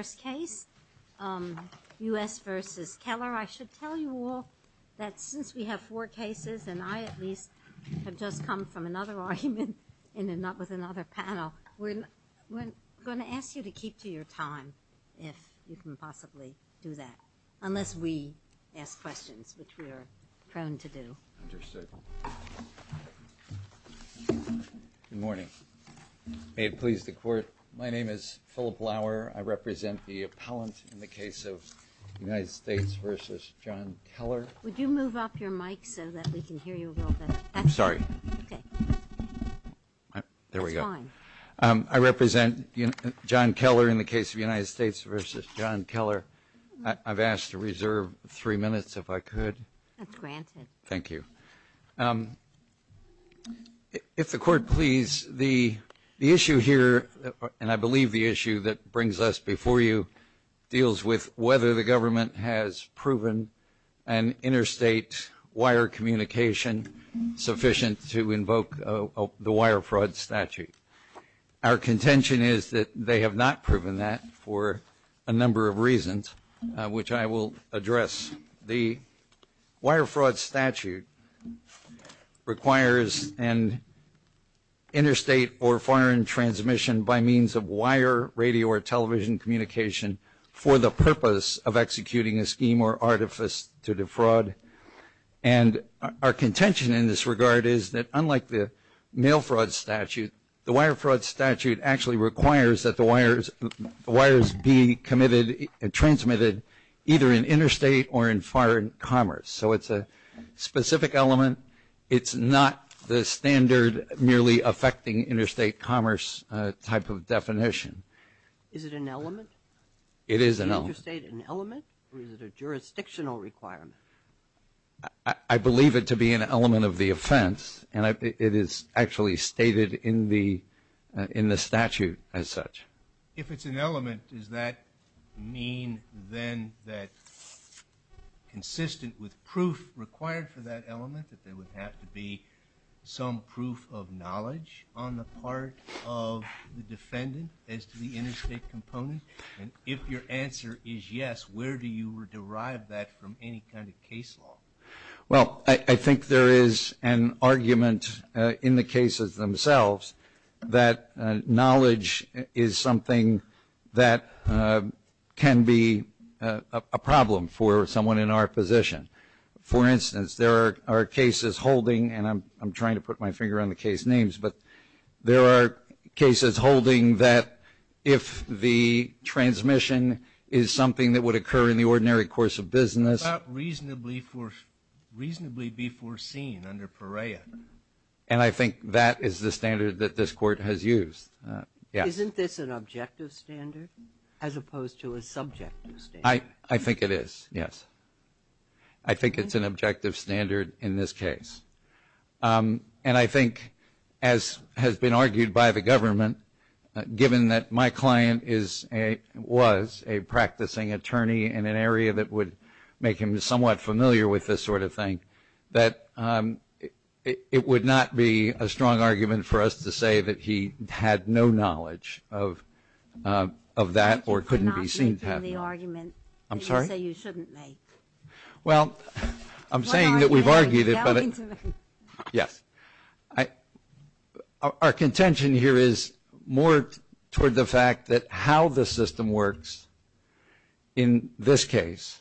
I should tell you all that since we have four cases and I at least have just come from another argument with another panel, we're going to ask you to keep to your time if you can possibly do that unless we ask questions which we are prone to do. Good morning. May it please the court my name is Philip Lauer I represent the appellant in the case of United States versus John Keller. Would you move up your mic so that we can hear you a little bit. I'm sorry. There we go. I represent John Keller in the case of United States versus John Keller. I've asked to reserve three minutes if I could. That's granted. Thank you. If the court please the issue here and I believe the issue that brings us before you deals with whether the government has proven an interstate wire communication sufficient to invoke the wire fraud statute. Our contention is that they have not proven that for a number of reasons which I will address. The wire fraud statute requires an interstate or foreign transmission by means of wire radio or television communication for the purpose of executing a scheme or artifice to defraud. And our contention in this regard is that unlike the mail fraud statute, the wire fraud statute actually requires that the wires be transmitted either in interstate or in foreign commerce. So it's a specific element. It's not the standard merely affecting interstate commerce type of definition. Is it an element? It is an element. Is interstate an element or is it a jurisdictional requirement? I believe it to be an element of the offense and it is actually stated in the in the statute as such. If it's an element does that mean then that consistent with proof required for that element that there would have to be some proof of knowledge on the part of the defendant as to the interstate component? And if your answer is yes, where do you derive that from any kind of case law? Well, I think there is an argument in the cases themselves that knowledge is something that can be a problem for someone in our position. For instance, there are cases holding, and I'm trying to put my finger on the case names, but there are cases holding that if the transmission is something that would occur in the ordinary course of business. And I think that is the standard that this court has used. Isn't this an objective standard as opposed to a subjective standard? I think it is, yes. I think it's an objective standard in this case. And I think, as has been argued by the government, given that my client is a, was a practicing attorney in an area that would make him somewhat familiar with this sort of thing, that it would not be a strong argument for us to say that he had no knowledge of that or couldn't be seen to have. I'm sorry? Well, I'm saying that we've argued it. Yes. Our contention here is more toward the fact that how the system works in this case.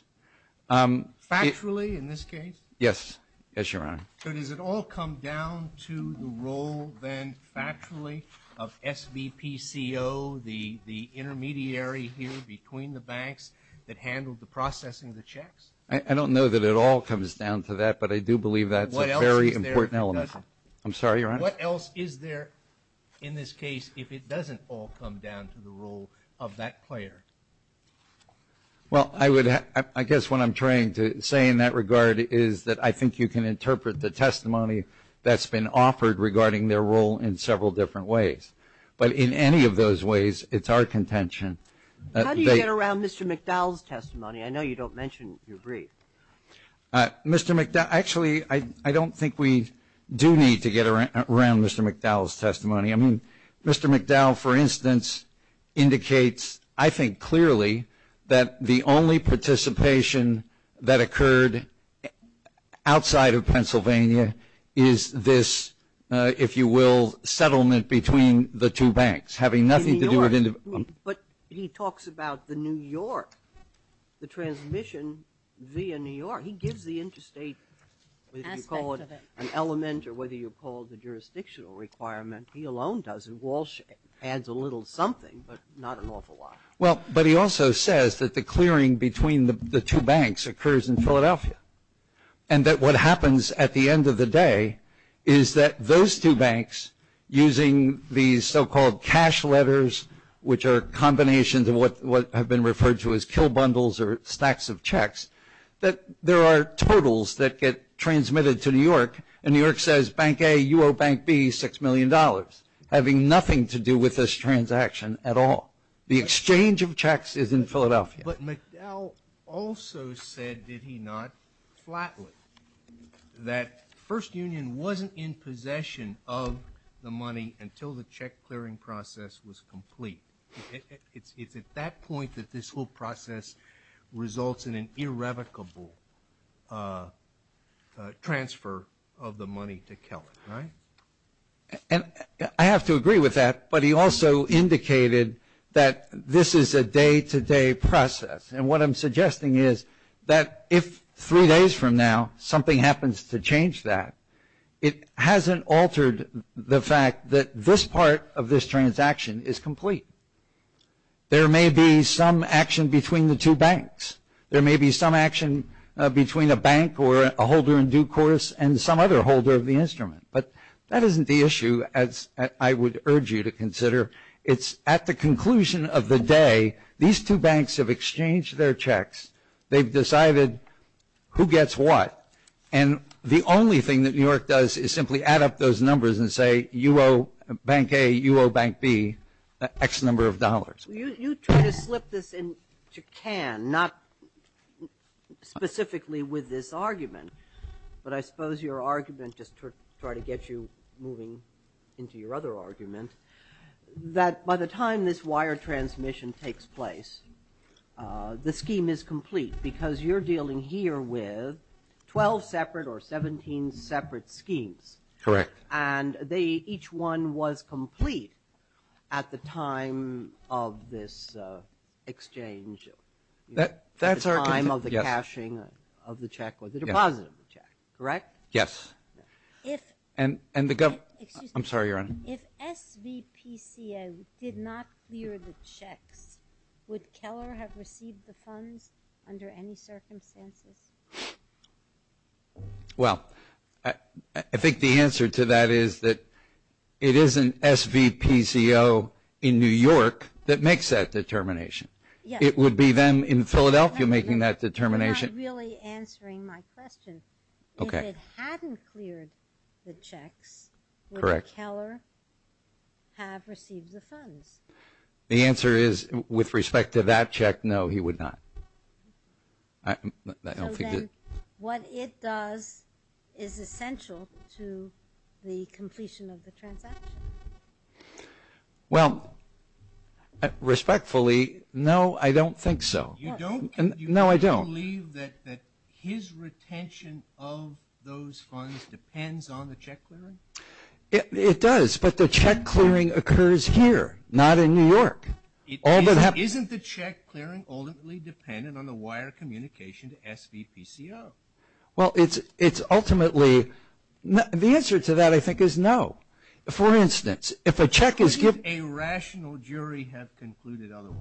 Factually, in this case? Yes. Yes, Your Honor. So does it all come down to the role, then, factually, of SVPCO, the intermediary here between the banks that handled the processing of the checks? I don't know that it all comes down to that, but I do believe that's a very important element. I'm sorry, Your Honor? What else is there in this case if it doesn't all come down to the role of that intermediary? That player. Well, I would, I guess what I'm trying to say in that regard is that I think you can interpret the testimony that's been offered regarding their role in several different ways. But in any of those ways, it's our contention. How do you get around Mr. McDowell's testimony? I know you don't mention your brief. Mr. McDowell, actually, I don't think we do need to get around Mr. McDowell's testimony. I mean, Mr. McDowell, for instance, indicates I think clearly that the only participation that occurred outside of Pennsylvania is this, if you will, settlement between the two banks having nothing to do with individual. But he talks about the New York, the transmission via New York. He gives the interstate, whether you call it an element or whether you call it the jurisdictional requirement, he alone does. And Walsh adds a little something, but not an awful lot. Well, but he also says that the clearing between the two banks occurs in Philadelphia. And that what happens at the end of the day is that those two banks, using these so-called cash letters, which are combinations of what have been referred to as kill bundles or stacks of checks, that there are totals that get transmitted to New York. And New York says bank A, you owe bank B $6 million, having nothing to do with this transaction at all. The exchange of checks is in Philadelphia. But McDowell also said, did he not, flatly, that First Union wasn't in possession of the money until the check clearing process was complete. It's at that point that this whole process results in an irrevocable transfer of the money to Kellett, right? And I have to agree with that, but he also indicated that this is a day-to-day process. And what I'm suggesting is that if three days from now something happens to change that, it hasn't altered the fact that this part of this transaction is complete. There may be some action between the two banks. There may be some action between a bank or a holder in due course and some other holder of the instrument. But that isn't the issue, as I would urge you to consider. It's at the conclusion of the day, these two banks have exchanged their checks. They've decided who gets what. And the only thing that New York does is simply add up those numbers and say, you owe bank A, you owe bank B X number of dollars. You try to slip this into CAN, not specifically with this argument. But I suppose your argument, just to try to get you moving into your other argument, that by the time this wire transmission takes place, the scheme is complete because you're dealing here with 12 separate or 17 separate schemes. Correct. And each one was complete at the time of this exchange, at the time of the cashing of the check or the deposit of the check. Correct? Yes. Excuse me. I'm sorry, Your Honor. If SVPCA did not clear the checks, would Keller have received the funds under any circumstances? Well, I think the answer to that is that it isn't SVPCA in New York that makes that determination. It would be them in Philadelphia making that determination. You're not really answering my question. Okay. If it hadn't cleared the checks, would Keller have received the funds? The answer is, with respect to that check, no, he would not. So then, what it does is essential to the completion of the transaction. Well, respectfully, no, I don't think so. You don't? No, I don't. Do you believe that his retention of those funds depends on the check clearing? It does, but the check clearing occurs here, not in New York. Isn't the check clearing ultimately dependent on the wire communication to SVPCA? Well, it's ultimately – the answer to that, I think, is no. For instance, if a check is given – Couldn't a rational jury have concluded otherwise?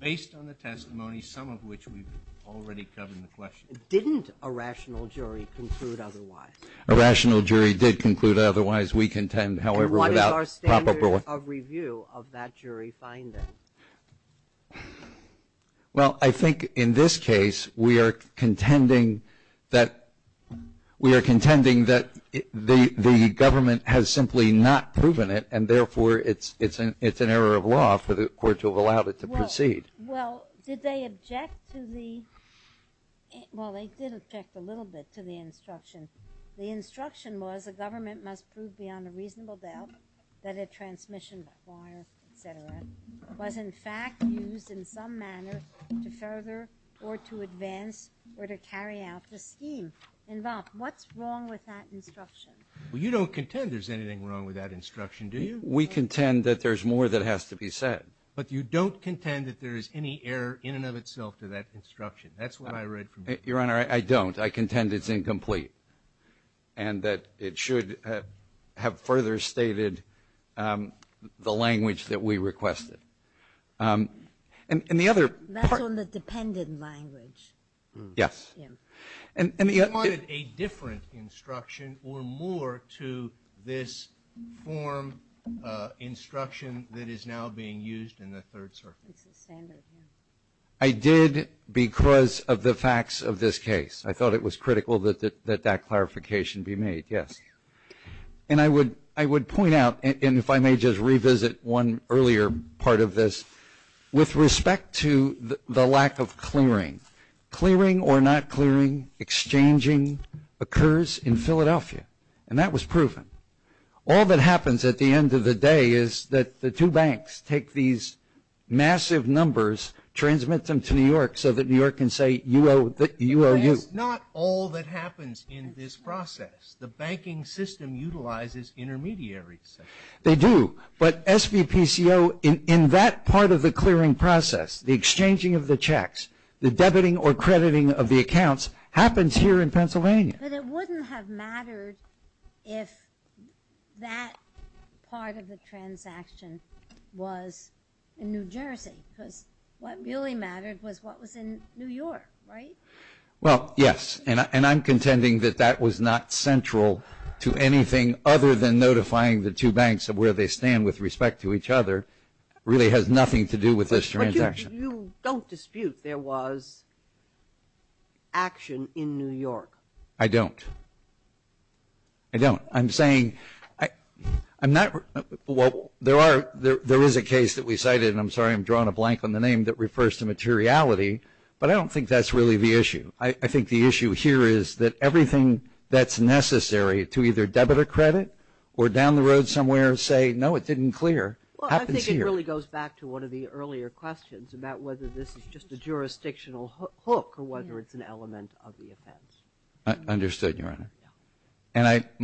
Based on the testimony, some of which we've already covered in the question. Didn't a rational jury conclude otherwise? A rational jury did conclude otherwise. We contend, however, without proper – And what is our standard of review of that jury finding? Well, I think in this case, we are contending that – we are contending that the government has simply not proven it, and therefore, it's an error of law for the Court to have allowed it to proceed. Well, did they object to the – well, they did object a little bit to the instruction. The instruction was the government must prove beyond a reasonable doubt that a transmission wire, et cetera, was in fact used in some manner to further or to advance or to carry out the scheme involved. What's wrong with that instruction? Well, you don't contend there's anything wrong with that instruction, do you? We contend that there's more that has to be said. But you don't contend that there is any error in and of itself to that instruction. That's what I read from the – Your Honor, I don't. I contend it's incomplete and that it should have further stated the language that we requested. And the other part – That's on the dependent language. Yes. You wanted a different instruction or more to this form instruction that is now being used in the Third Circuit. I did because of the facts of this case. I thought it was critical that that clarification be made, yes. And I would point out, and if I may just revisit one earlier part of this, with clearing, exchanging occurs in Philadelphia. And that was proven. All that happens at the end of the day is that the two banks take these massive numbers, transmit them to New York so that New York can say you owe – you owe you. That is not all that happens in this process. The banking system utilizes intermediaries. They do. But SVPCO, in that part of the clearing process, the exchanging of the checks, the debiting or crediting of the accounts happens here in Pennsylvania. But it wouldn't have mattered if that part of the transaction was in New Jersey because what really mattered was what was in New York, right? Well, yes, and I'm contending that that was not central to anything other than notifying the two banks of where they stand with respect to each other. It really has nothing to do with this transaction. You don't dispute there was action in New York? I don't. I don't. I'm saying – I'm not – well, there are – there is a case that we cited, and I'm sorry I'm drawing a blank on the name, that refers to materiality, but I don't think that's really the issue. I think the issue here is that everything that's necessary to either debit or credit or down the road somewhere say, no, it didn't clear, happens here. Well, I think it really goes back to one of the earlier questions about whether this is just a jurisdictional hook or whether it's an element of the offense. Understood, Your Honor. And I –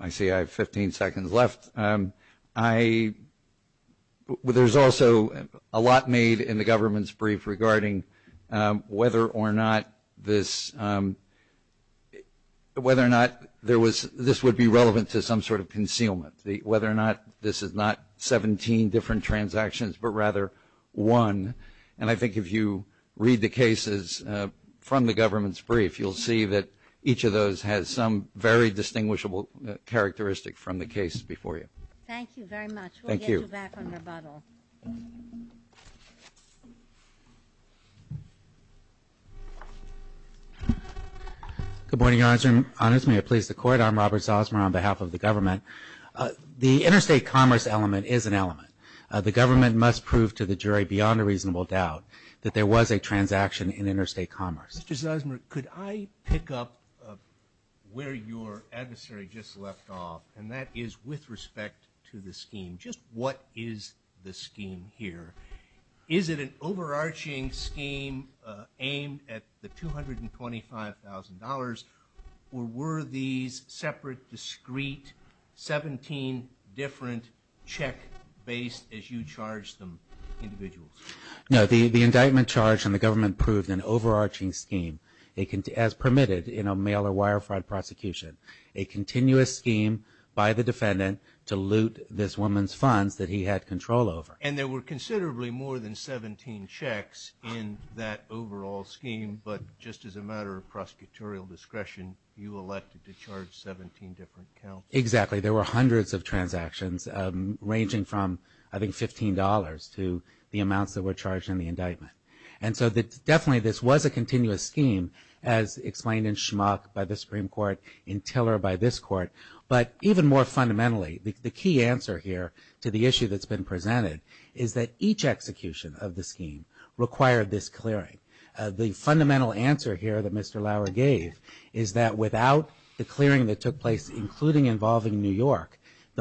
I see I have 15 seconds left. I – there's also a lot made in the government's brief regarding whether or not this – whether or not there was – this would be relevant to some sort of concealment, whether or not this is not 17 different transactions but rather one. And I think if you read the cases from the government's brief, you'll see that each of those has some very distinguishable characteristic from the cases before you. Thank you very much. Thank you. We'll get you back on rebuttal. Good morning, Your Honor. Honest me, I please the Court. I'm Robert Zosmer on behalf of the government. The interstate commerce element is an element. The government must prove to the jury beyond a reasonable doubt that there was a transaction in interstate commerce. Mr. Zosmer, could I pick up where your adversary just left off, and that is with respect to the scheme. Just what is the scheme here? Is it an overarching scheme aimed at the $225,000, or were these separate, discreet 17 different check-based, as you charged them, individuals? No, the indictment charged in the government proved an overarching scheme, as permitted in a mail or wire fraud prosecution, a continuous scheme by the defendant to loot this woman's funds that he had control over. And there were considerably more than 17 checks in that overall scheme, but just as a matter of prosecutorial discretion, you elected to charge 17 different counts. Exactly. There were hundreds of transactions ranging from, I think, $15 to the amounts that were charged in the indictment. And so definitely this was a continuous scheme, as explained in Schmock by the Supreme Court, in Tiller by this Court. But even more fundamentally, the key answer here to the issue that's been presented is that each execution of the scheme required this clearing. The fundamental answer here that Mr. Lauer gave is that without the clearing that took place, including involving New York,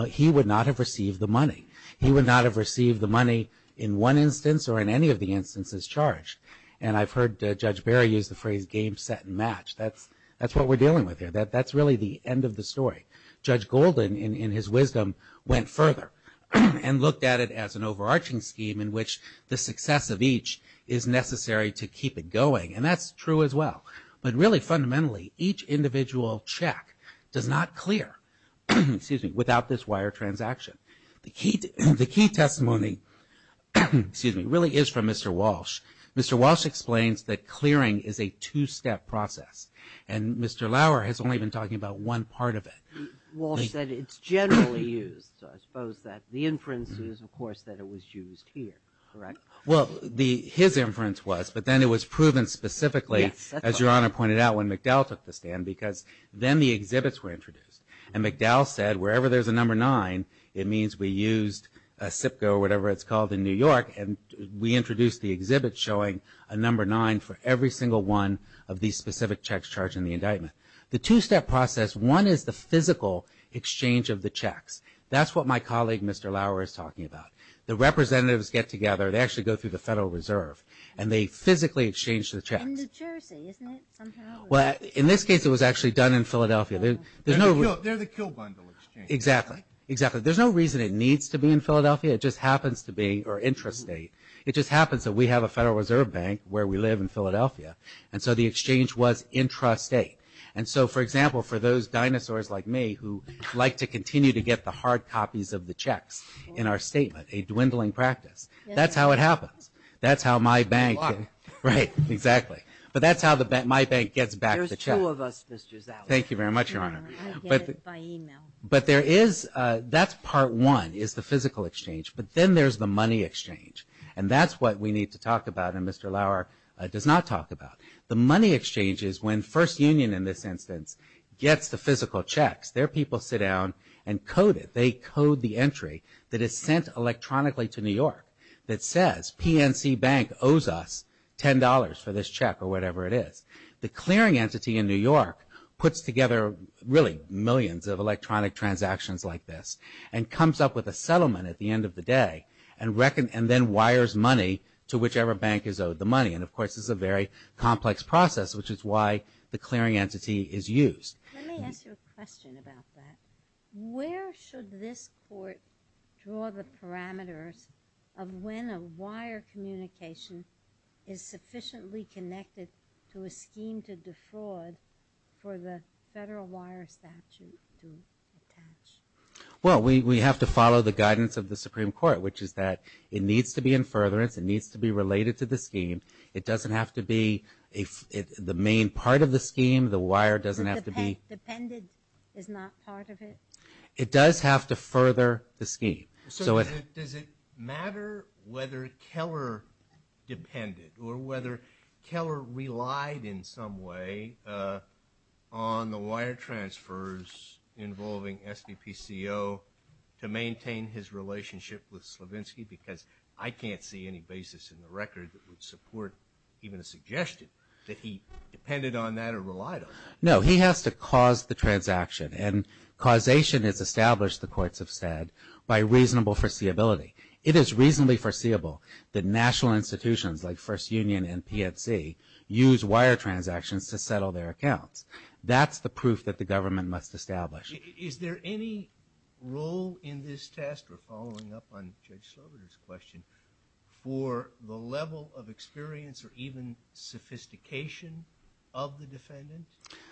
he would not have received the money. He would not have received the money in one instance or in any of the instances charged. And I've heard Judge Barry use the phrase game, set, and match. That's what we're dealing with here. That's really the end of the story. Judge Golden, in his wisdom, went further and looked at it as an overarching scheme in which the success of each is necessary to keep it going. And that's true as well. But really, fundamentally, each individual check does not clear without this wire transaction. The key testimony really is from Mr. Walsh. Mr. Walsh explains that clearing is a two-step process. And Mr. Lauer has only been talking about one part of it. Walsh said it's generally used, so I suppose that the inference is, of course, that it was used here. Correct? Well, his inference was, but then it was proven specifically, as Your Honor pointed out, when McDowell took the stand, because then the exhibits were introduced. And McDowell said wherever there's a number nine, it means we used a SIPCO or whatever it's called in New York, and we introduced the exhibit showing a number nine for every single one of these specific checks charged in the indictment. The two-step process, one is the physical exchange of the checks. That's what my colleague, Mr. Lauer, is talking about. The representatives get together. They actually go through the Federal Reserve, and they physically exchange the checks. In New Jersey, isn't it? Well, in this case, it was actually done in Philadelphia. They're the Kill Bundle Exchange. Exactly. Exactly. There's no reason it needs to be in Philadelphia. It just happens to be our interest state. It just happens that we have a Federal Reserve Bank where we live in Philadelphia. And so the exchange was intrastate. And so, for example, for those dinosaurs like me, who like to continue to get the hard copies of the checks in our statement, a dwindling practice, that's how it happens. That's how my bank gets back the checks. There's two of us, Mr. Zauer. Thank you very much, Your Honor. I get it by e-mail. But that's part one, is the physical exchange. But then there's the money exchange. And that's what we need to talk about. And Mr. Lauer does not talk about. The money exchange is when First Union, in this instance, gets the physical checks. Their people sit down and code it. They code the entry that is sent electronically to New York that says, PNC Bank owes us $10 for this check, or whatever it is. The clearing entity in New York puts together, really, millions of electronic transactions like this, and comes up with a settlement at the end of the day, and then wires money to whichever bank is owed the money. And, of course, this is a very complex process, which is why the clearing entity is used. Let me ask you a question about that. Where should this court draw the parameters of when a wire communication is sufficiently connected to a scheme to defraud for the federal wire statute to attach? Well, we have to follow the guidance of the Supreme Court, which is that it needs to be in furtherance. It needs to be related to the scheme. It doesn't have to be the main part of the scheme. The wire doesn't have to be. Dependent is not part of it? It does have to further the scheme. So does it matter whether Keller depended, or whether Keller relied in some way on the wire transfers involving SVPCO to maintain his relationship with Slavinsky? Because I can't see any basis in the record that would support even a suggestion that he depended on that or relied on that. No, he has to cause the transaction. And causation is established, the courts have said, by reasonable foreseeability. It is reasonably foreseeable that national institutions like First Union and PNC use wire transactions to settle their accounts. That's the proof that the government must establish. Is there any role in this test, we're following up on Judge Sloboda's question, for the level of experience or even sophistication of the defendant?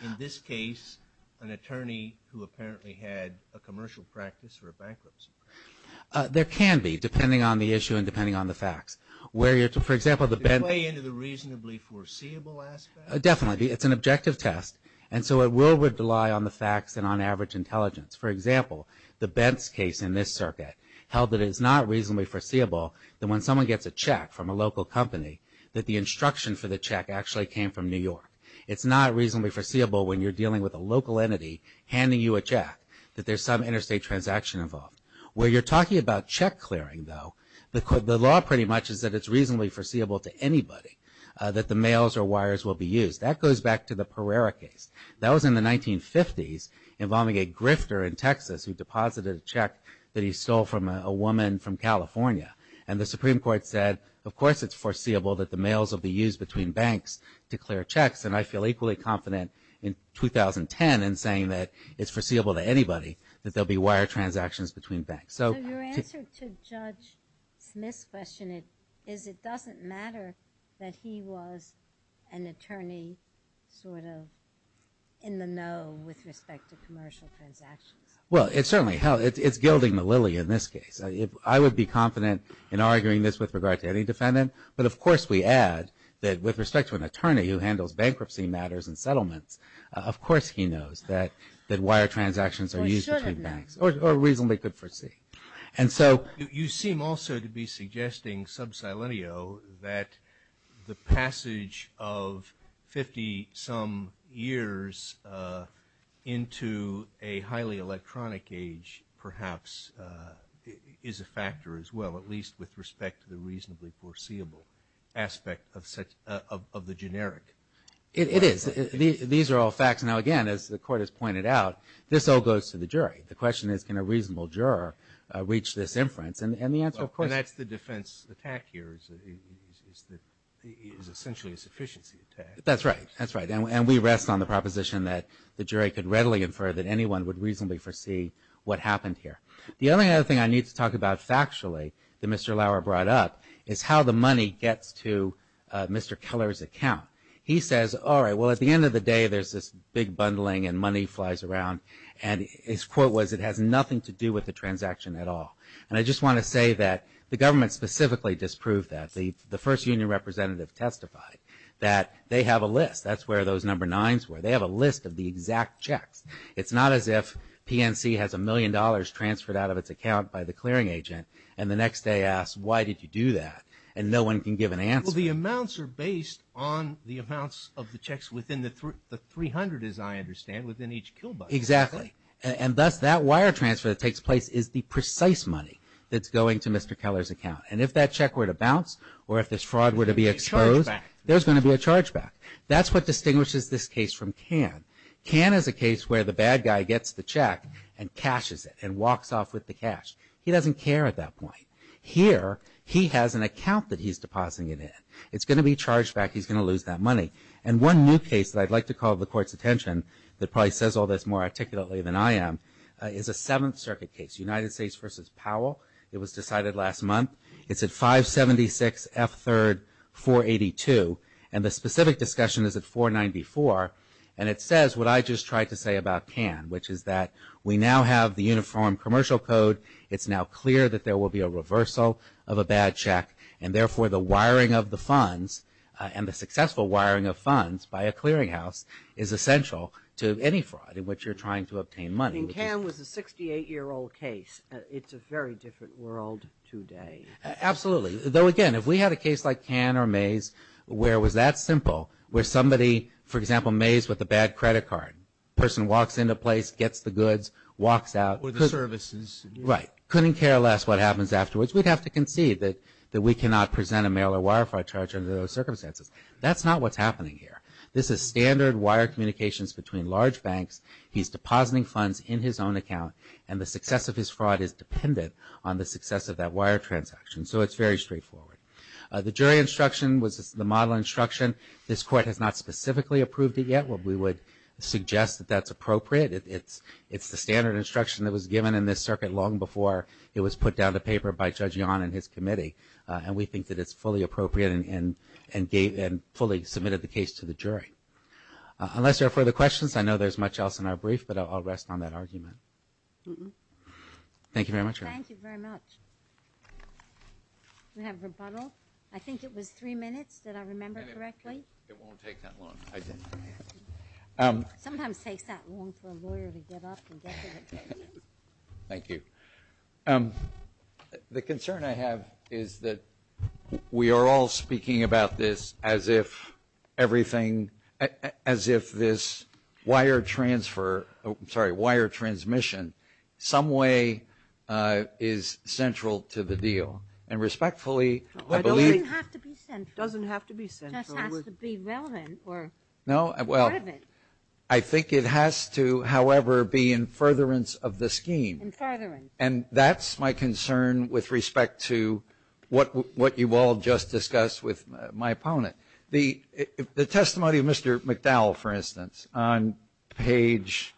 In this case, an attorney who apparently had a commercial practice or a bankruptcy practice? There can be, depending on the issue and depending on the facts. For example, the benefit of the reasonable foreseeable aspect? Definitely. It's an objective test. And so it will rely on the facts and on average intelligence. For example, the Bents case in this circuit held that it's not reasonably foreseeable that when someone gets a check from a local company, that the instruction for the check actually came from New York. It's not reasonably foreseeable when you're dealing with a local entity handing you a check, that there's some interstate transaction involved. Where you're talking about check clearing though, the law pretty much is that it's reasonably foreseeable to anybody that the mails or wires will be used. That goes back to the Pereira case. That was in the 1950s involving a grifter in Texas who deposited a check that he stole from a woman from California. And the Supreme Court said, of course it's foreseeable that the mails will be used between banks to clear checks. And I feel equally confident in 2010 in saying that it's foreseeable to anybody that there will be wire transactions between banks. So your answer to Judge Smith's question is it doesn't matter that he was an attorney sort of in the know with respect to commercial transactions. Well, it's certainly held. It's gilding the lily in this case. I would be confident in arguing this with regard to any defendant. But of course we add that with respect to an attorney who handles bankruptcy matters and settlements, of course he knows that wire transactions are used between banks. Or should have known. Or reasonably could foresee. And so you seem also to be suggesting sub silentio that the passage of 50 some years into a highly electronic age perhaps is a factor as well, at least with respect to the reasonably foreseeable aspect of the generic. It is. These are all facts. Now, again, as the Court has pointed out, this all goes to the jury. The question is can a reasonable juror reach this inference? And the answer, of course. And that's the defense attack here is essentially a sufficiency attack. That's right. That's right. And we rest on the proposition that the jury could readily infer that anyone would reasonably foresee what happened here. The only other thing I need to talk about factually that Mr. Lauer brought up is how the money gets to Mr. Keller's account. He says, all right, well, at the end of the day there's this big bundling and money flies around. And his quote was it has nothing to do with the transaction at all. And I just want to say that the government specifically disproved that. The first union representative testified that they have a list. That's where those number nines were. They have a list of the exact checks. It's not as if PNC has a million dollars transferred out of its account by the clearing agent and the next day asks why did you do that. And no one can give an answer. Well, the amounts are based on the amounts of the checks within the 300, as I understand, within each kill bucket. Exactly. And thus that wire transfer that takes place is the precise money that's going to Mr. Keller's account. And if that check were to bounce or if this fraud were to be exposed, there's going to be a charge back. That's what distinguishes this case from Cannes. Cannes is a case where the bad guy gets the check and cashes it and walks off with the cash. He doesn't care at that point. Here he has an account that he's depositing it in. It's going to be charged back. He's going to lose that money. And one new case that I'd like to call the Court's attention that probably says all this more articulately than I am is a Seventh Circuit case, United States v. Powell. It was decided last month. It's at 576 F. 3, 482. And the specific discussion is at 494. And it says what I just tried to say about Cannes, which is that we now have the uniform commercial code. It's now clear that there will be a reversal of a bad check. And, therefore, the wiring of the funds and the successful wiring of funds by a clearinghouse is essential to any fraud in which you're trying to obtain money. I mean, Cannes was a 68-year-old case. It's a very different world today. Absolutely. Though, again, if we had a case like Cannes or Maize where it was that simple, where somebody, for example, Maize with a bad credit card, person walks into a place, gets the goods, walks out. Or the services. Right. Couldn't care less what happens afterwards. We'd have to concede that we cannot present a mail or wire fraud charge under those circumstances. That's not what's happening here. This is standard wire communications between large banks. He's depositing funds in his own account. And the success of his fraud is dependent on the success of that wire transaction. So it's very straightforward. The jury instruction was the model instruction. This court has not specifically approved it yet. We would suggest that that's appropriate. And we think that it's fully appropriate and fully submitted the case to the jury. Unless there are further questions, I know there's much else in our brief, but I'll rest on that argument. Thank you very much. Thank you very much. Do we have rebuttal? I think it was three minutes. Did I remember correctly? It won't take that long. Sometimes it takes that long for a lawyer to get up and get to the podium. Thank you. The concern I have is that we are all speaking about this as if everything, as if this wire transfer, I'm sorry, wire transmission some way is central to the deal. And respectfully, I believe it doesn't have to be central. It just has to be relevant or part of it. I think it has to, however, be in furtherance of the scheme. In furtherance. And that's my concern with respect to what you all just discussed with my opponent. The testimony of Mr. McDowell, for instance, on page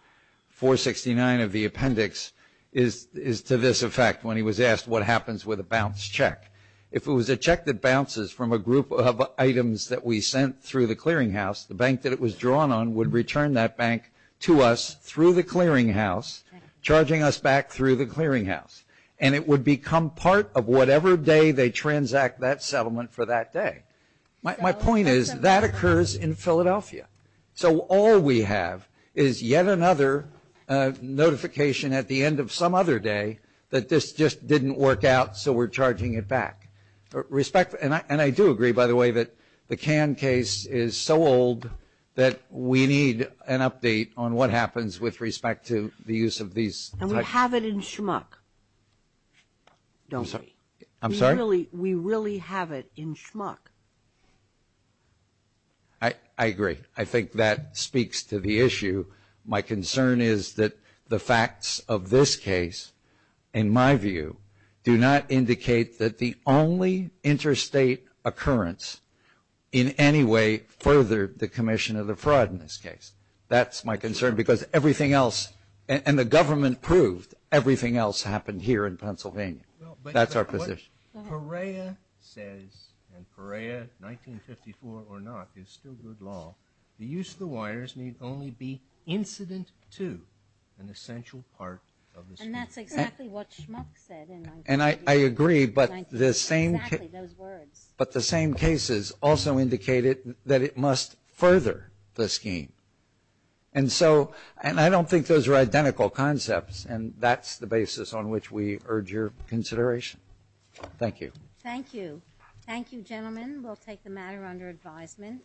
469 of the appendix is to this effect, when he was asked what happens with a bounced check. If it was a check that bounces from a group of items that we sent through the bank to us through the clearinghouse, charging us back through the clearinghouse. And it would become part of whatever day they transact that settlement for that day. My point is that occurs in Philadelphia. So all we have is yet another notification at the end of some other day that this just didn't work out, so we're charging it back. And I do agree, by the way, that the Cannes case is so old that we need an update on what happens with respect to the use of these types. And we have it in schmuck, don't we? I'm sorry? We really have it in schmuck. I agree. I think that speaks to the issue. My concern is that the facts of this case, in my view, do not indicate that the only interstate occurrence in any way furthered the commission of the fraud in this case. That's my concern because everything else, and the government proved, everything else happened here in Pennsylvania. That's our position. What Perea says, and Perea, 1954 or not, is still good law, the use of the wires need only be incident to an essential part of the system. And that's exactly what schmuck said. And I agree, but the same cases also indicated that it must further the scheme. And I don't think those are identical concepts, and that's the basis on which we urge your consideration. Thank you. Thank you. Thank you, gentlemen. We'll take the matter under advisement.